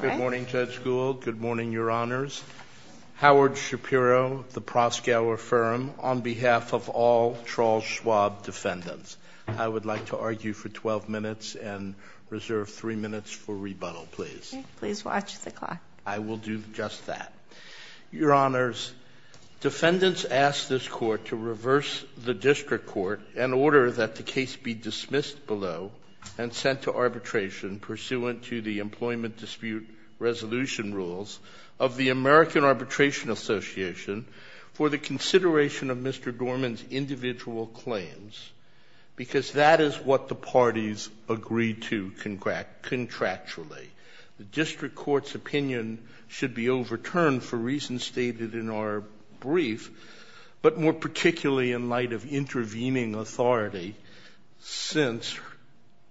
Good morning, Judge Gould. Good morning, Your Honors. Howard Shapiro, the Proskauer Firm, on behalf of all Charles Schwab defendants, I would like to argue for 12 minutes and reserve three minutes for rebuttal, please. Please watch the clock. I will do just that. Your Honors, defendants ask this Court to reverse the District Court in order that the case be dismissed below and sent to arbitration pursuant to the Employment Dispute Resolution Rules of the American Arbitration Association for the consideration of Mr. Dorman's individual claims, because that is what the parties agreed to contractually. The District Court's opinion should be overturned for reasons stated in our brief, but more particularly in light of intervening authority since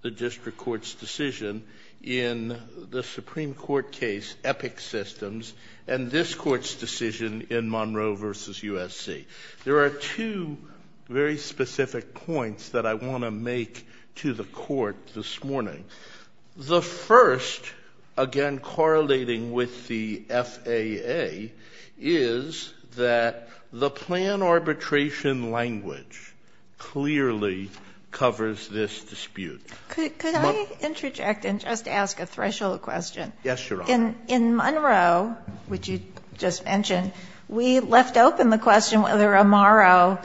the District Court's decision in the Supreme Court case Epic Systems and this Court's decision in Monroe v. USC. There are two very specific points that I want to make to the Court this morning. The first, again correlating with the FAA, is that the plan arbitration language clearly covers this dispute. Could I interject and just ask a threshold question? Yes, Your Honor. In Monroe, which you just mentioned, we left open the question whether Amaro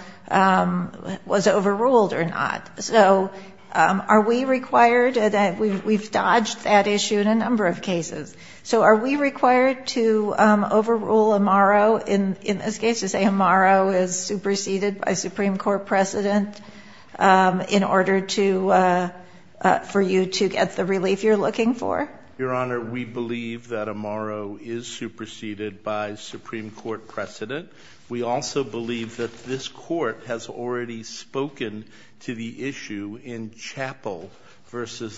was overruled or not. So are we required, and we've dodged that issue in a number of cases, so are we required to overrule Amaro in this case to say Amaro is superseded by Supreme Court precedent in order for you to get the relief you're looking for? Your Honor, we believe that Amaro is superseded by Supreme Court precedent. We also believe that this Court has already spoken to the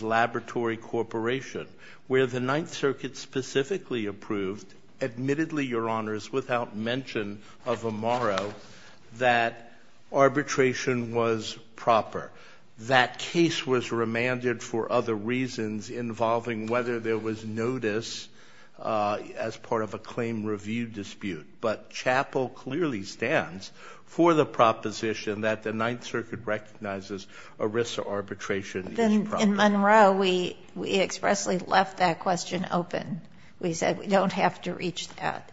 Laboratory Corporation, where the Ninth Circuit specifically approved, admittedly, Your Honors, without mention of Amaro, that arbitration was proper. That case was remanded for other reasons involving whether there was notice as part of a claim review dispute. But Chappell clearly stands for the proposition that the Ninth Circuit recognizes ERISA arbitration as proper. In Monroe, we expressly left that question open. We said we don't have to reach that.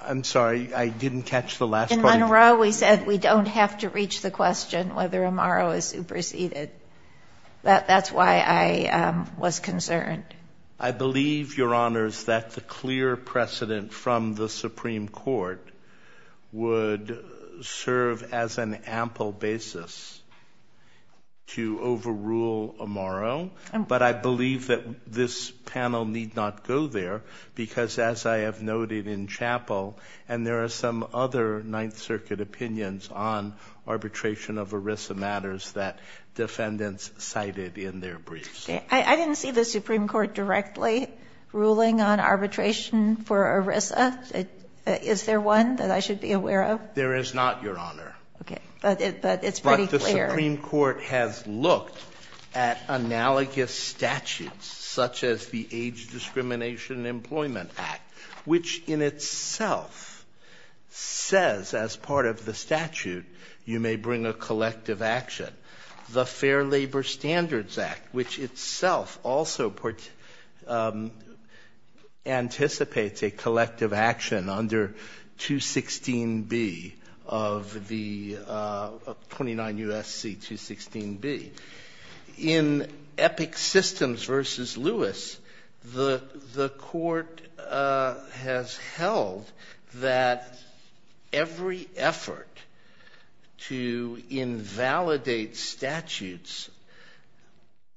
I'm sorry, I didn't catch the last part. In Monroe, we said we don't have to reach the question whether Amaro is superseded. That's why I was concerned. I believe, Your Honors, that the clear precedent from the Supreme Court would serve as an ample basis to overrule Amaro. But I believe that this panel need not go there because, as I have noted in Chappell, and there are some other Ninth Circuit opinions on arbitration of ERISA matters that defendants cited in their briefs. Okay. I didn't see the Supreme Court directly ruling on arbitration for ERISA. Is there one that I should be aware of? There is not, Your Honor. Okay. But it's pretty clear. But the Supreme Court has looked at analogous statutes, such as the Age Discrimination Employment Act, which in itself says, as part of the statute, you may bring a collective action. The Fair Labor Standards Act, which itself also anticipates a collective action under 216B of the 29 U.S.C. 216B. In Epic Systems v. Lewis, the Court has held that every effort to invalidate statutes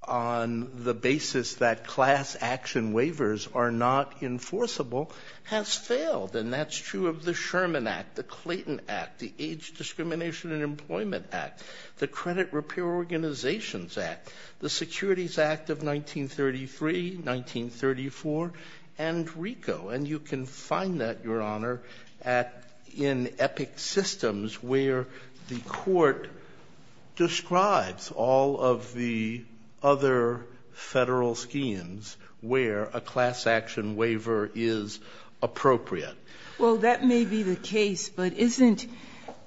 on the basis that class action waivers are not enforceable has failed. And that's true of the Sherman Act, the Clayton Act, the Age Discrimination and Employment Act, the Credit Repair Organizations Act, the Securities Act of 1933, 1934, and you can find that, Your Honor, in Epic Systems, where the Court describes all of the other federal schemes where a class action waiver is appropriate. Well, that may be the case, but isn't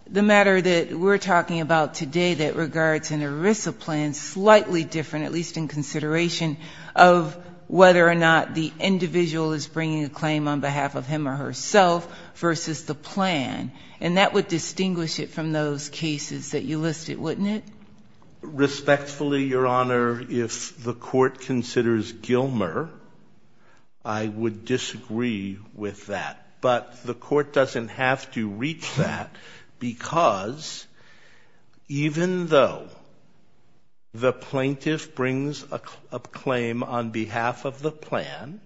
the matter that we're talking about today that regards an ERISA plan slightly different, at least in consideration of whether or not the individual is bringing a claim on behalf of him or herself versus the plan? And that would distinguish it from those cases that you listed, wouldn't it? Respectfully, Your Honor, if the Court considers Gilmer, I would disagree with that. But the Court doesn't have to reach that, because even though the plaintiff brings a claim on behalf of the plan,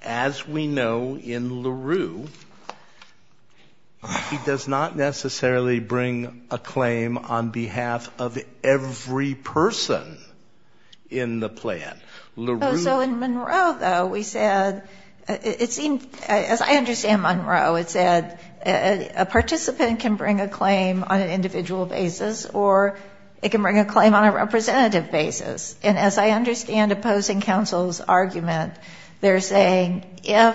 as we know in LaRue, he does not necessarily bring a claim on behalf of every person in the plan. LaRue ---- So in Monroe, though, we said, it seemed, as I understand Monroe, it said a participant can bring a claim on an individual basis or it can bring a claim on a representative basis. And as I understand opposing counsel's argument, they're saying if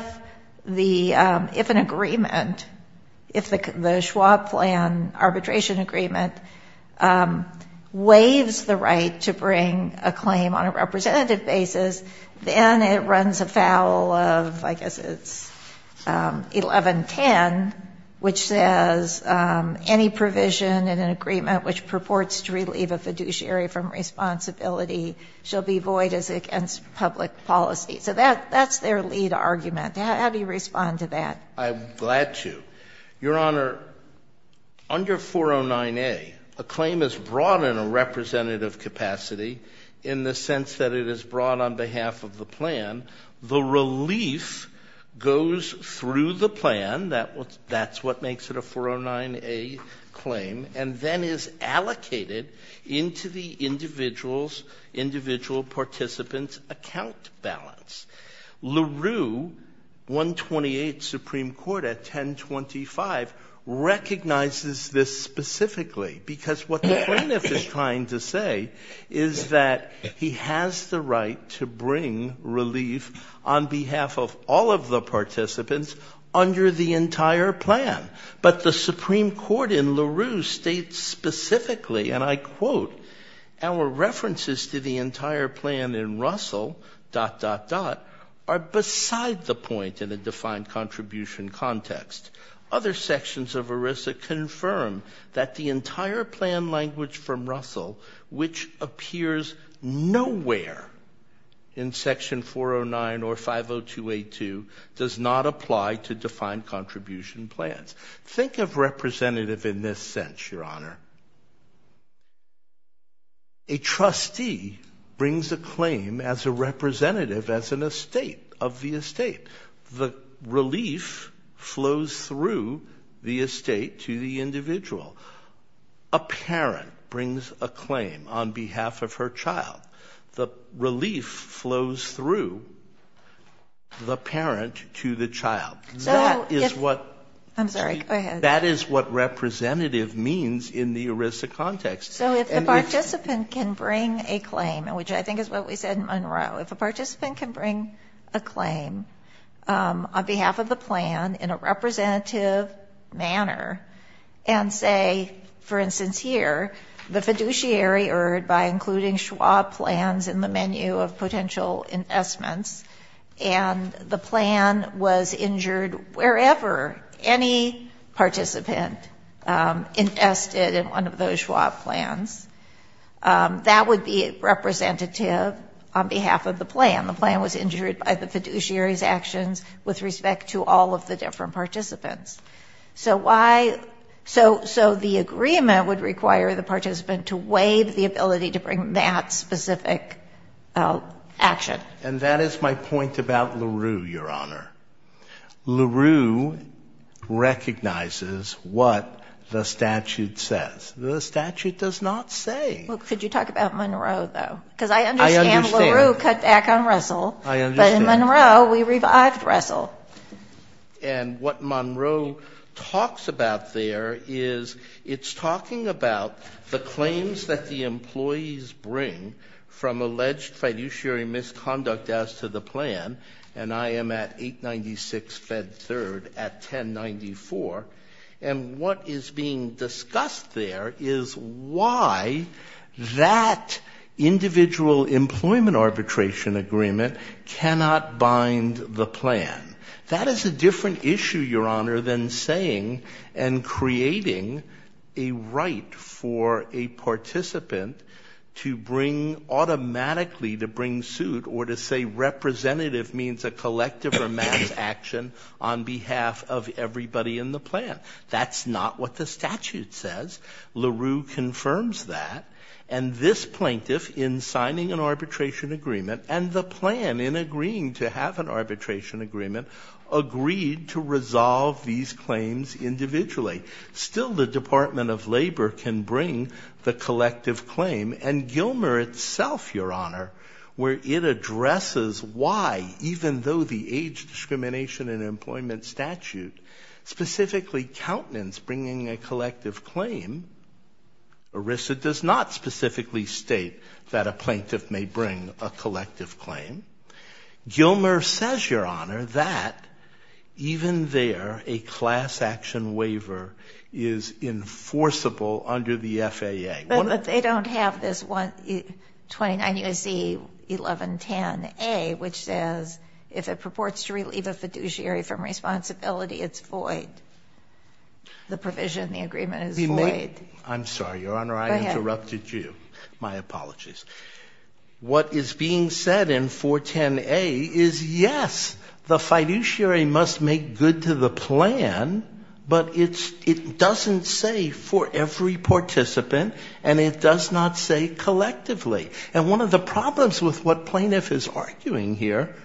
an agreement, if the Schwab plan arbitration agreement waives the right to bring a claim on a representative basis, then it runs afoul of, I guess it's 1110, which says, any provision in an agreement which purports to relieve a fiduciary from responsibility shall be void as against public policy. So that's their lead argument. How do you respond to that? I'm glad to. Your Honor, under 409A, a claim is brought in a representative capacity in the sense that it is brought on behalf of the plan. The relief goes through the plan, that's what makes it a 409A claim, and then is allocated into the individual's participant's account balance. LaRue, 128 Supreme Court at 1025, recognizes this specifically because what the plaintiff is trying to say is that he has the right to bring relief on behalf of all of the participants under the entire plan. But the Supreme Court in LaRue states specifically, and I quote, our references to the entire plan in Russell, dot, dot, dot, are beside the point in a defined contribution context. Other sections of ERISA confirm that the entire plan language from Russell, which appears nowhere in section 409 or 509A, is also 282, does not apply to defined contribution plans. Think of representative in this sense, Your Honor. A trustee brings a claim as a representative as an estate, of the estate. The relief flows through the estate to the individual. A parent brings a claim on behalf of her child. The relief flows through the parent to the child. That is what representative means in the ERISA context. So if the participant can bring a claim, which I think is what we said in Monroe, if a participant can bring a claim on behalf of the plan in a representative manner and say, for instance here, the fiduciary erred by including Schwab plans in the menu of potential investments and the plan was injured wherever any participant invested in one of those Schwab plans, that would be representative on behalf of the plan. The plan was injured by the fiduciary's actions with respect to all of the different participants. So why, so the agreement would require the participant to waive the ability to bring that specific action. And that is my point about LaRue, Your Honor. LaRue recognizes what the statute says. The statute does not say. Well, could you talk about Monroe, though? Because I understand LaRue cut back on Russell. I understand. But in Monroe, we revived Russell. And what Monroe talks about there is it's talking about the claims that the employees bring from alleged fiduciary misconduct as to the plan, and I am at 896 Fed 3rd at 1094. And what is being discussed there is why that individual employment arbitration agreement cannot bind the plan. That is a different issue, Your Honor, than saying and creating a right for a participant to bring automatically, to bring suit or to say representative means a collective or mass action on behalf of everybody in the plan. That's not what the statute says. LaRue confirms that, and this plaintiff in signing an arbitration agreement and the plan in agreeing to have an arbitration agreement agreed to resolve these claims individually. Still the Department of Labor can bring the collective claim and Gilmer itself, Your Honor, where it addresses why, even though the age discrimination in employment statute, specifically countenance bringing a collective claim, ERISA does not specifically state that a plaintiff may bring a collective claim. Gilmer says, Your Honor, that even there a class action waiver is enforceable under the FAA. But they don't have this 29 U.S.C. 1110A, which says if it purports to relieve a fiduciary from responsibility, it's void. The provision in the agreement is void. I'm sorry, Your Honor, I interrupted you. My apologies. What is being said in 410A is yes, the fiduciary must make good to the plan, but it doesn't say for every participant, and it does not say collectively. And one of the problems with what plaintiff is arguing here,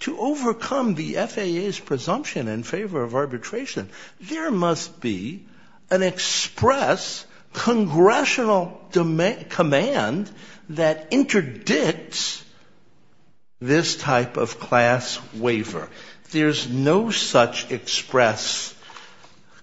to overcome the FAA's presumption in favor of arbitration, there must be an express congressional command that interdicts this type of class waiver. There's no such express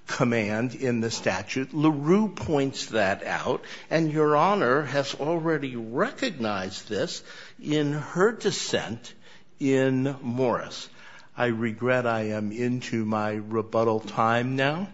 command in the statute. LaRue points that out, and Your Honor has already recognized this in her dissent in Morris. I regret I am into my rebuttal time now,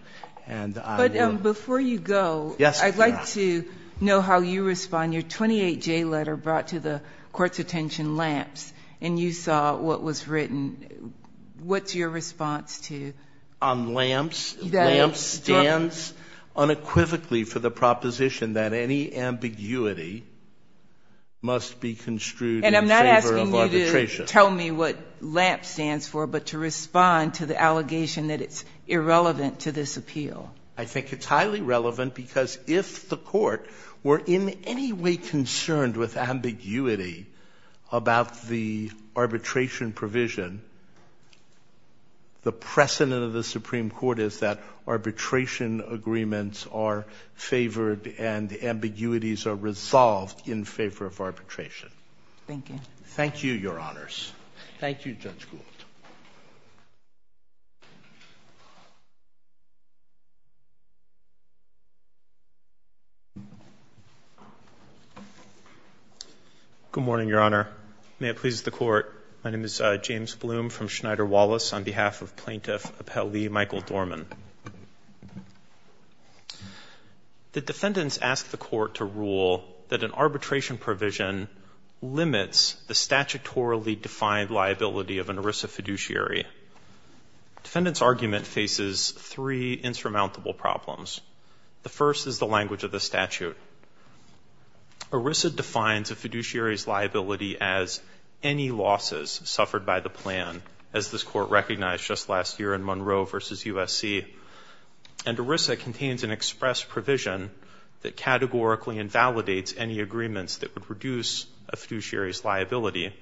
and I will — But before you go, I'd like to know how you respond. Your 28J letter brought to the court's attention LAMPS, and you saw what was written. What's your response to — On LAMPS, LAMPS stands unequivocally for the proposition that any ambiguity must be made construed in favor of arbitration. And I'm not asking you to tell me what LAMPS stands for, but to respond to the allegation that it's irrelevant to this appeal. I think it's highly relevant, because if the court were in any way concerned with ambiguity about the arbitration provision, the precedent of the Supreme Court is that arbitration agreements are favored and ambiguities are resolved in favor of arbitration. Thank you, Your Honors. Thank you, Judge Gould. Good morning, Your Honor. May it please the Court, my name is James Bloom from Schneider Law. The defendants ask the court to rule that an arbitration provision limits the statutorily defined liability of an ERISA fiduciary. Defendant's argument faces three insurmountable problems. The first is the language of the statute. ERISA defines a fiduciary's liability as any losses suffered by the plan, as this Court recognized just last year in Monroe v. USC. And ERISA contains an express provision that categorically invalidates any agreements that would reduce a fiduciary's liability.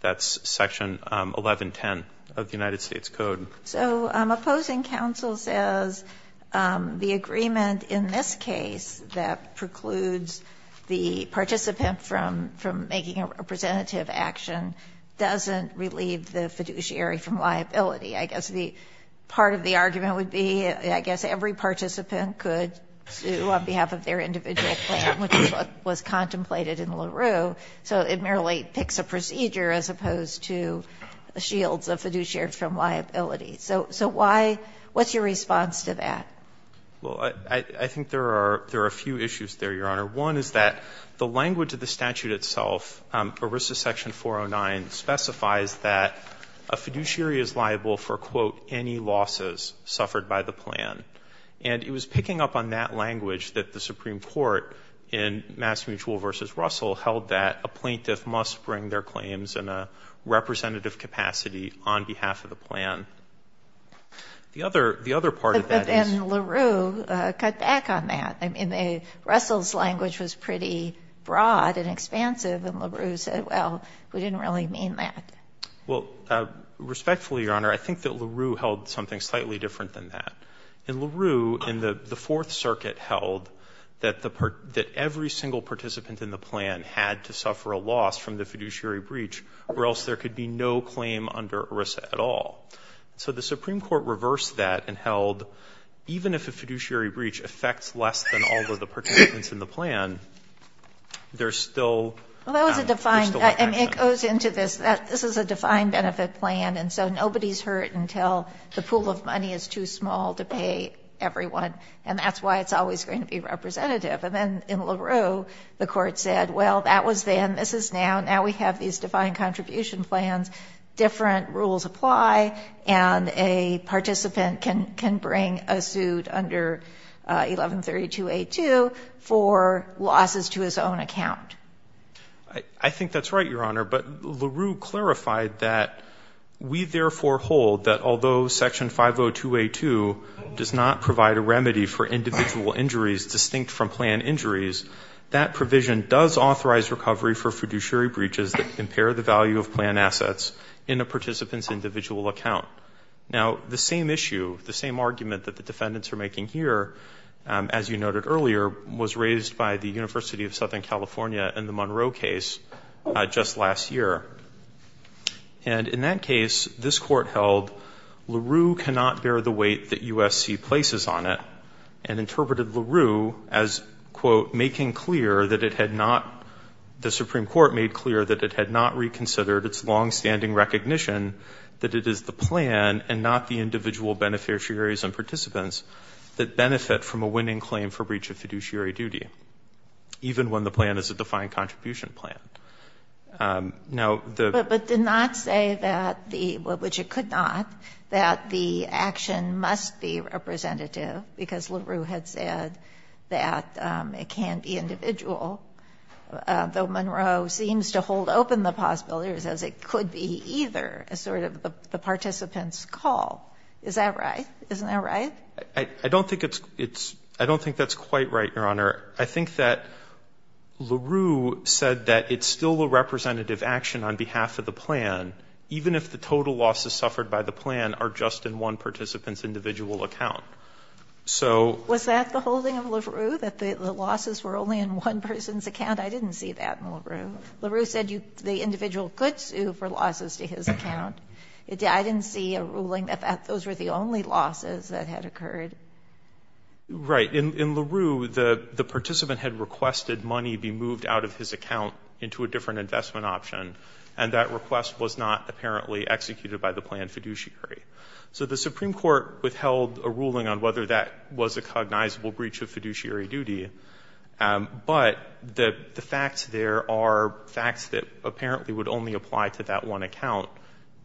That's Section 1110 of the United States Code. So opposing counsel says the agreement in this case that precludes the participant from making a representative action doesn't relieve the fiduciary from liability. I guess the part of the argument would be, I guess every participant could sue on behalf of their individual plan, which is what was contemplated in LaRue. So it merely picks a procedure as opposed to shields a fiduciary from liability. So why, what's your response to that? Well, I think there are a few issues there, Your Honor. One is that the language of the statute itself, ERISA Section 409, specifies that a fiduciary is liable for quote, any losses suffered by the plan. And it was picking up on that language that the Supreme Court in Mass Mutual v. Russell held that a plaintiff must bring their claims in a representative capacity on behalf of the plan. The other part of that is that Section LaRue cut back on that. I mean, Russell's language was pretty broad and expansive, and LaRue said, well, we didn't really mean that. Well, respectfully, Your Honor, I think that LaRue held something slightly different than that. In LaRue, the Fourth Circuit held that every single participant in the plan had to suffer a loss from the fiduciary breach, or else there could be no claim under ERISA at all. So the Supreme Court reversed that and held, even if a fiduciary breach affects less than all of the participants in the plan, there's still an action. Well, that was a defined — and it goes into this, this is a defined benefit plan, and so nobody's hurt until the pool of money is too small to pay everyone, and that's why it's always going to be representative. And then in LaRue, the Court said, well, that was then, this is now, now we have these defined contribution plans, different rules apply, and a participant can bring a suit under 1132A2 for losses to his own account. I think that's right, Your Honor, but LaRue clarified that we therefore hold that although Section 502A2 does not provide a remedy for individual injuries distinct from plan injuries, that provision does authorize recovery for fiduciary breaches that impair the value of plan assets in a participant's individual account. Now, the same issue, the same argument that the defendants are making here, as you noted earlier, was raised by the University of Southern California in the Monroe case just last year. And in that case, this Court held LaRue cannot bear the weight that USC places on it and interpreted LaRue as, quote, making clear that it had not — the Supreme Court made clear that it had not reconsidered its long-standing recognition that it is the plan and not the individual beneficiaries and participants that benefit from a winning claim for breach of fiduciary duty, even when the plan is a defined contribution plan. Now, the — But did not say that the — well, which it could not, that the action must be representative, because LaRue had said that it can be individual, though Monroe seems to hold open the possibilities as it could be either, as sort of the participant's call. Is that right? Isn't that right? I don't think it's — I don't think that's quite right, Your Honor. I think that LaRue said that it's still a representative action on behalf of the plan, even if the total losses suffered by the plan are just in one participant's individual account. So — Was that the holding of LaRue, that the losses were only in one person's account? I didn't see that in LaRue. LaRue said you — the individual could sue for losses to his account. I didn't see a ruling that those were the only losses that had occurred. Right. In LaRue, the participant had requested money be moved out of his account into a different investment option, and that request was not apparently executed by the plan fiduciary. So the Supreme Court withheld a ruling on whether that was a cognizable breach of fiduciary duty, but the facts there are facts that apparently would only apply to that one account,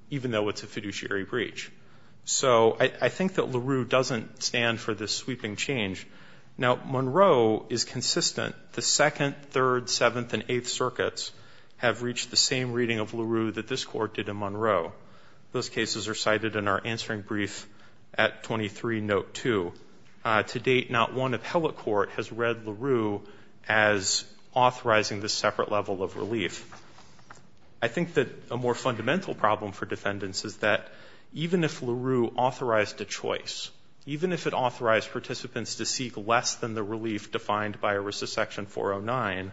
even though it's a fiduciary breach. So I think that LaRue doesn't stand for this sweeping change. Now, Monroe is consistent. The Second, Third, Seventh, and Eighth Circuits have reached the same reading of LaRue that this Court did in Monroe. Those cases are cited in our answering brief at 23 Note 2. To date, not one appellate court has read LaRue as authorizing this separate level of relief. I think that a more fundamental problem for defendants is that even if LaRue authorized a choice, even if it authorized participants to seek less than the relief defined by Section 409,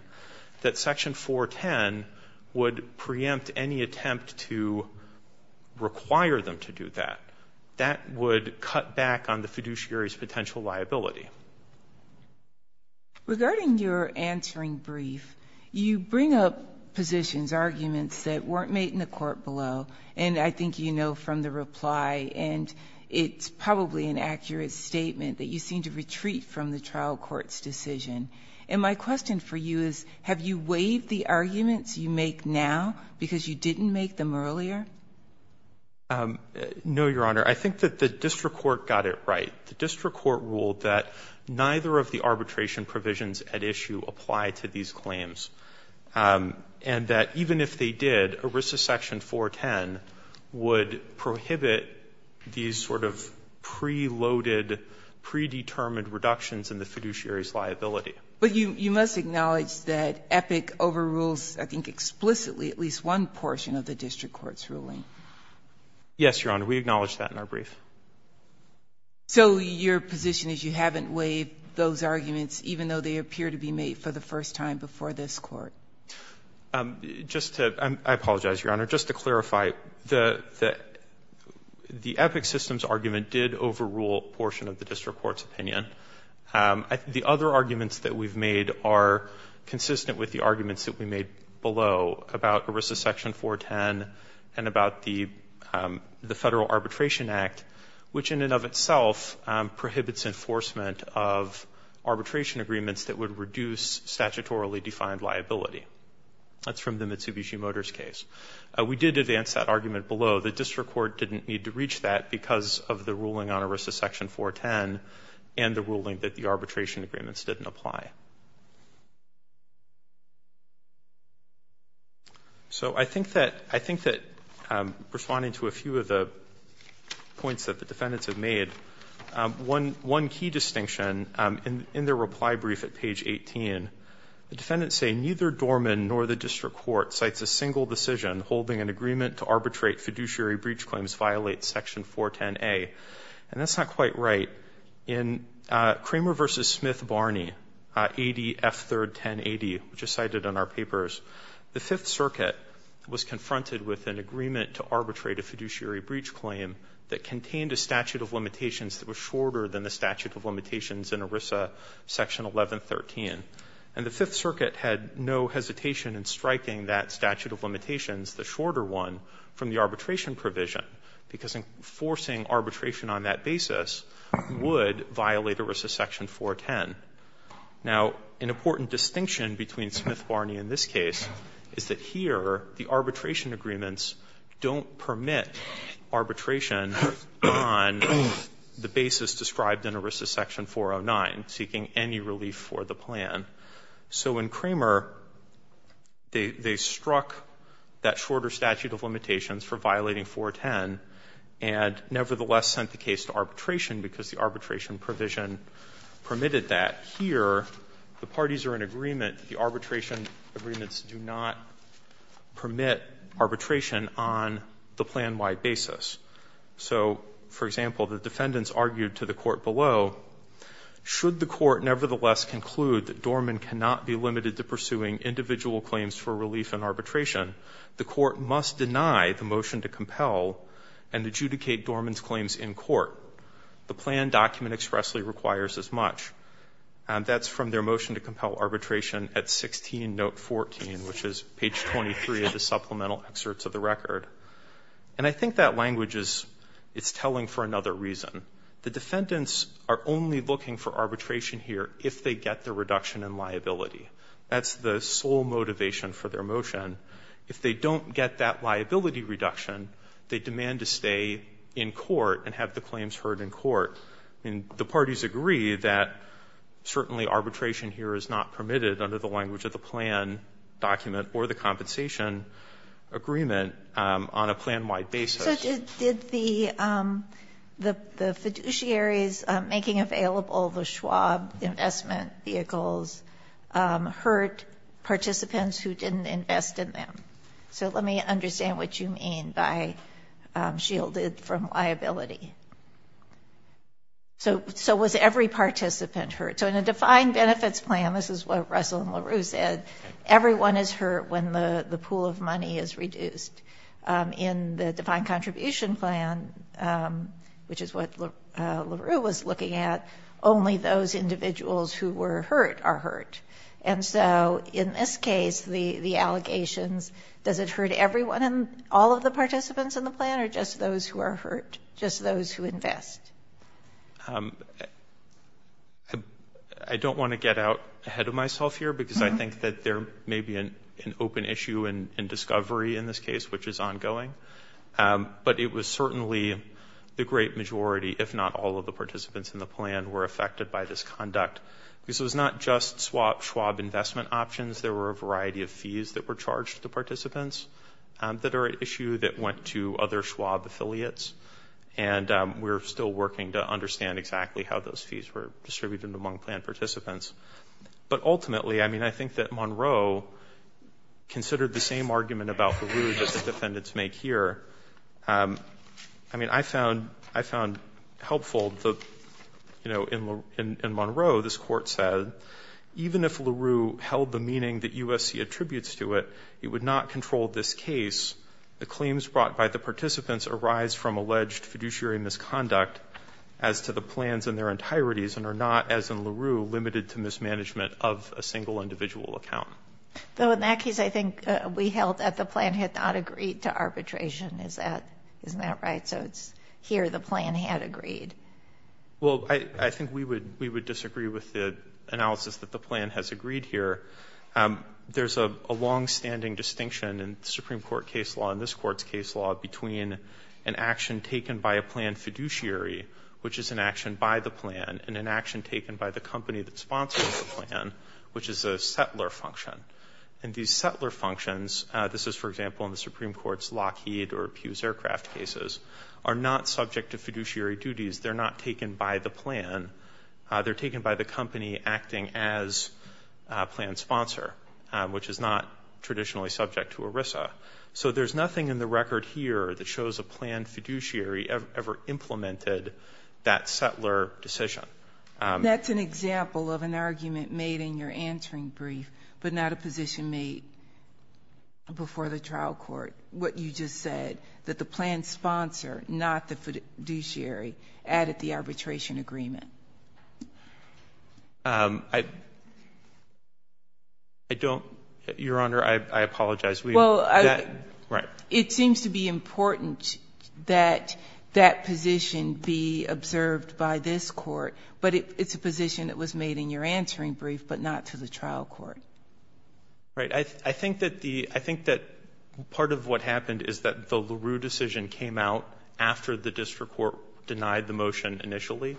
that Section 410 would preempt any attempt to require them to do that. That would cut back on the fiduciary's potential liability. Regarding your answering brief, you bring up positions, arguments that weren't made in the court below, and I think you know from the reply, and it's probably an accurate statement, that you seem to retreat from the trial court's decision. And my question for you is, have you waived the arguments you make now because you didn't make them earlier? No, Your Honor. I think that the district court got it right. The district court ruled that neither of the arbitration provisions at issue apply to these claims, and that even if they did, ERISA Section 410 would prohibit these sort of preloaded, predetermined reductions in the fiduciary's liability. But you must acknowledge that EPIC overrules, I think explicitly, at least one portion of the district court's ruling. Yes, Your Honor. We acknowledge that in our brief. So your position is you haven't waived those arguments, even though they appear to be made for the first time before this Court? I apologize, Your Honor. Just to clarify, the EPIC system's argument did overrule a portion of the district court's opinion. The other arguments that we've made are consistent with the arguments that we made below about ERISA Section 410 and about the Federal Arbitration Act, which in and of itself prohibits enforcement of arbitration agreements that would reduce statutorily defined liability. That's from the Mitsubishi Motors case. We did advance that argument below. The district court didn't need to reach that because of the ruling on ERISA Section 410 and the ruling that the arbitration agreements didn't apply. So I think that, responding to a few of the points that the defendants have made, one key distinction in their reply brief at page 18, the defendants say, neither Dorman nor the district court cites a single decision holding an agreement to arbitrate fiduciary breach claims violate Section 410A. And that's not quite right. In Kramer v. Smith-Barney, AD F3-1080, which is cited in our papers, the Fifth Circuit was confronted with an agreement to arbitrate a fiduciary breach claim that contained a statute of limitations that was in ERISA Section 1113. And the Fifth Circuit had no hesitation in striking that statute of limitations, the shorter one, from the arbitration provision, because enforcing arbitration on that basis would violate ERISA Section 410. Now, an important distinction between Smith-Barney and this case is that here the arbitration agreements don't permit arbitration on the basis described in ERISA Section 1113. ERISA Section 409, seeking any relief for the plan. So in Kramer, they struck that shorter statute of limitations for violating 410 and nevertheless sent the case to arbitration because the arbitration provision permitted that. Here, the parties are in agreement that the arbitration agreements do not permit arbitration on the plan-wide basis. So, for example, the defendants argued to the court below should the court nevertheless conclude that Dorman cannot be limited to pursuing individual claims for relief in arbitration, the court must deny the motion to compel and adjudicate Dorman's claims in court. The plan document expressly requires as much. That's from their motion to compel arbitration at 16, note 14, which is page 23 of the supplemental excerpts of the record. And I think that the defendants are only looking for arbitration here if they get the reduction in liability. That's the sole motivation for their motion. If they don't get that liability reduction, they demand to stay in court and have the claims heard in court. The parties agree that certainly arbitration here is not permitted under the language of the plan document or the compensation agreement on a plan-wide basis. So did the fiduciaries making available the Schwab investment vehicles hurt participants who didn't invest in them? So let me understand what you mean by shielded from liability. So was every participant hurt? So in a defined benefits plan, this is what Russell and LaRue said, everyone is hurt when the pool of money is reduced. In the defined contribution plan, which is what LaRue was looking at, only those individuals who were hurt are hurt. And so in this case, the allegations, does it hurt everyone and all of the participants in the plan or just those who are hurt, just those who invest? I don't want to get out ahead of myself here because I think that there may be an open issue in discovery in this case, which is ongoing. But it was certainly the great majority, if not all of the participants in the plan, were affected by this conduct. This was not just Schwab investment options. There were a variety of fees that were charged to participants that are at issue that went to other Schwab affiliates. And we're still working to understand exactly how those fees were distributed among plan participants. But ultimately, I mean, I think that Monroe considered the same argument about LaRue that the defendants make here. I mean, I found helpful, you know, in Monroe, this court said, even if LaRue held the meaning that USC attributes to it, it would not control this case. The claims brought by the participants arise from alleged fiduciary misconduct as to the plans in their entireties and are not, as in LaRue, limited to mismanagement of a single individual account. Though in that case, I think we held that the plan had not agreed to arbitration. Isn't that right? So it's here the plan had agreed. Well, I think we would disagree with the analysis that the plan has agreed here. There's a longstanding distinction in the Supreme Court case law and this court's case law between an action taken by a plan fiduciary, which is an action by the plan, and an action taken by the company that sponsors the plan, which is a settler function. And these settler functions, this is, for example, in the Supreme Court's Lockheed or Pews Aircraft cases, are not subject to fiduciary duties. They're not taken by the plan. They're taken by the company acting as a plan sponsor, which is not traditionally subject to ERISA. So there's nothing in the record here that shows a plan fiduciary ever implemented that settler decision. That's an example of an argument made in your answering brief, but not a position made before the trial court. What you just said, that the plan sponsor, not the plan fiduciary. I don't, Your Honor, I apologize. Well, it seems to be important that that position be observed by this court, but it's a position that was made in your answering brief, but not to the trial court. Right. I think that part of what happened is that the LaRue decision came out after the district court denied the motion initially.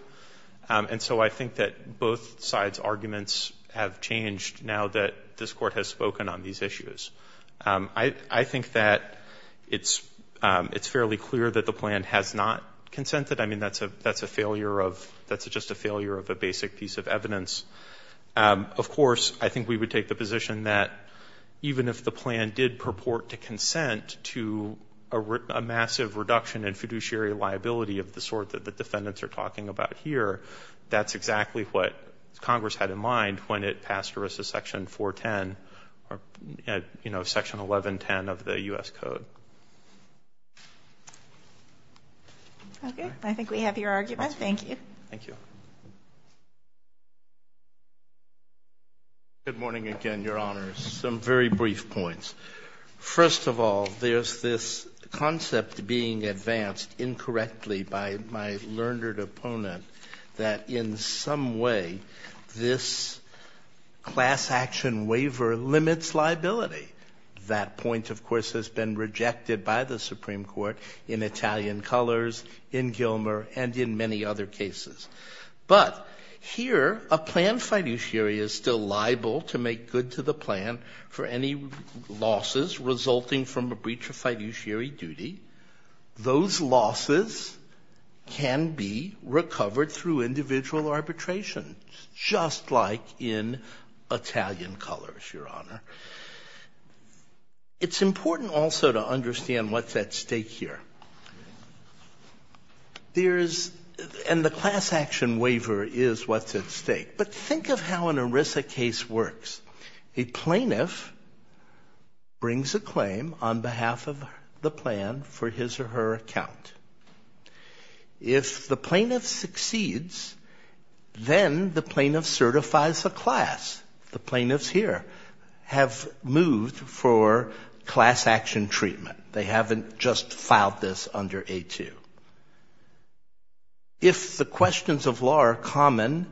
And so I think that both sides' arguments have changed now that this court has spoken on these issues. I think that it's fairly clear that the plan has not consented. I mean, that's a failure of, that's just a failure of a basic piece of evidence. Of course, I think we would take the position that even if the plan did have a fiduciary liability of the sort that the defendants are talking about here, that's exactly what Congress had in mind when it passed versus Section 410, you know, Section 1110 of the U.S. Code. Okay. I think we have your argument. Thank you. Thank you. Good morning again, Your Honors. Some very brief points. First of all, there's this concept being advanced incorrectly by my learned opponent that in some way this class action waiver limits liability. That point, of course, has been rejected by the Supreme Court in Italian Colors, in Gilmer, and in many other cases. But here a planned fiduciary is still liable to make good to the plan for any losses resulting from a breach of fiduciary duty. Those losses can be recovered through individual arbitration, just like in Italian Colors, Your Honor. It's important also to understand what's at stake here. And the class action waiver is what's at stake. But think of how an ERISA case works. A plaintiff brings a claim on behalf of the plan for his or her account. If the plaintiff succeeds, then the plaintiff certifies the class. The plaintiffs here have moved for class action treatment. They haven't just filed this under A2. If the questions of law are common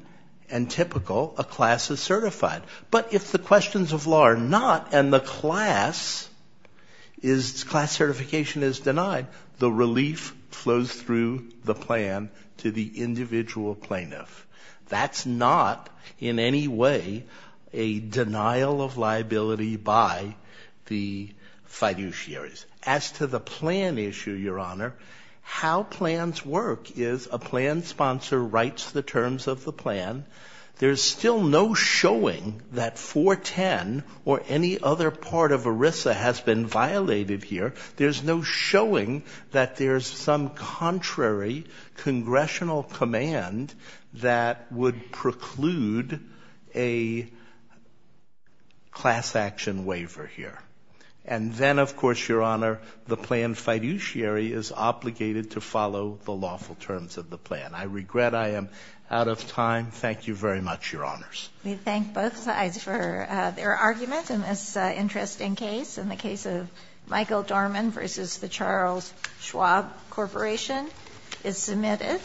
and typical, a class is certified. But if the questions of law are not and the class certification is denied, the relief flows through the plan to the individual plaintiff. That's not in any way a denial of liability by the fiduciaries. As to the plan issue, Your Honor, how plans work is a plan sponsor writes the terms of the plan. There's still no showing that 410 or any other part of ERISA has been violated here. There's no showing that there's some contrary congressional command that would preclude a class action waiver here. And then, of course, Your Honor, the plan fiduciary is obligated to follow the lawful terms of the plan. I regret I am out of time. Thank you very much, Your Honors. We thank both sides for their argument in this interesting case. And the case of Michael Dorman v. The Charles Schwab Corporation is submitted.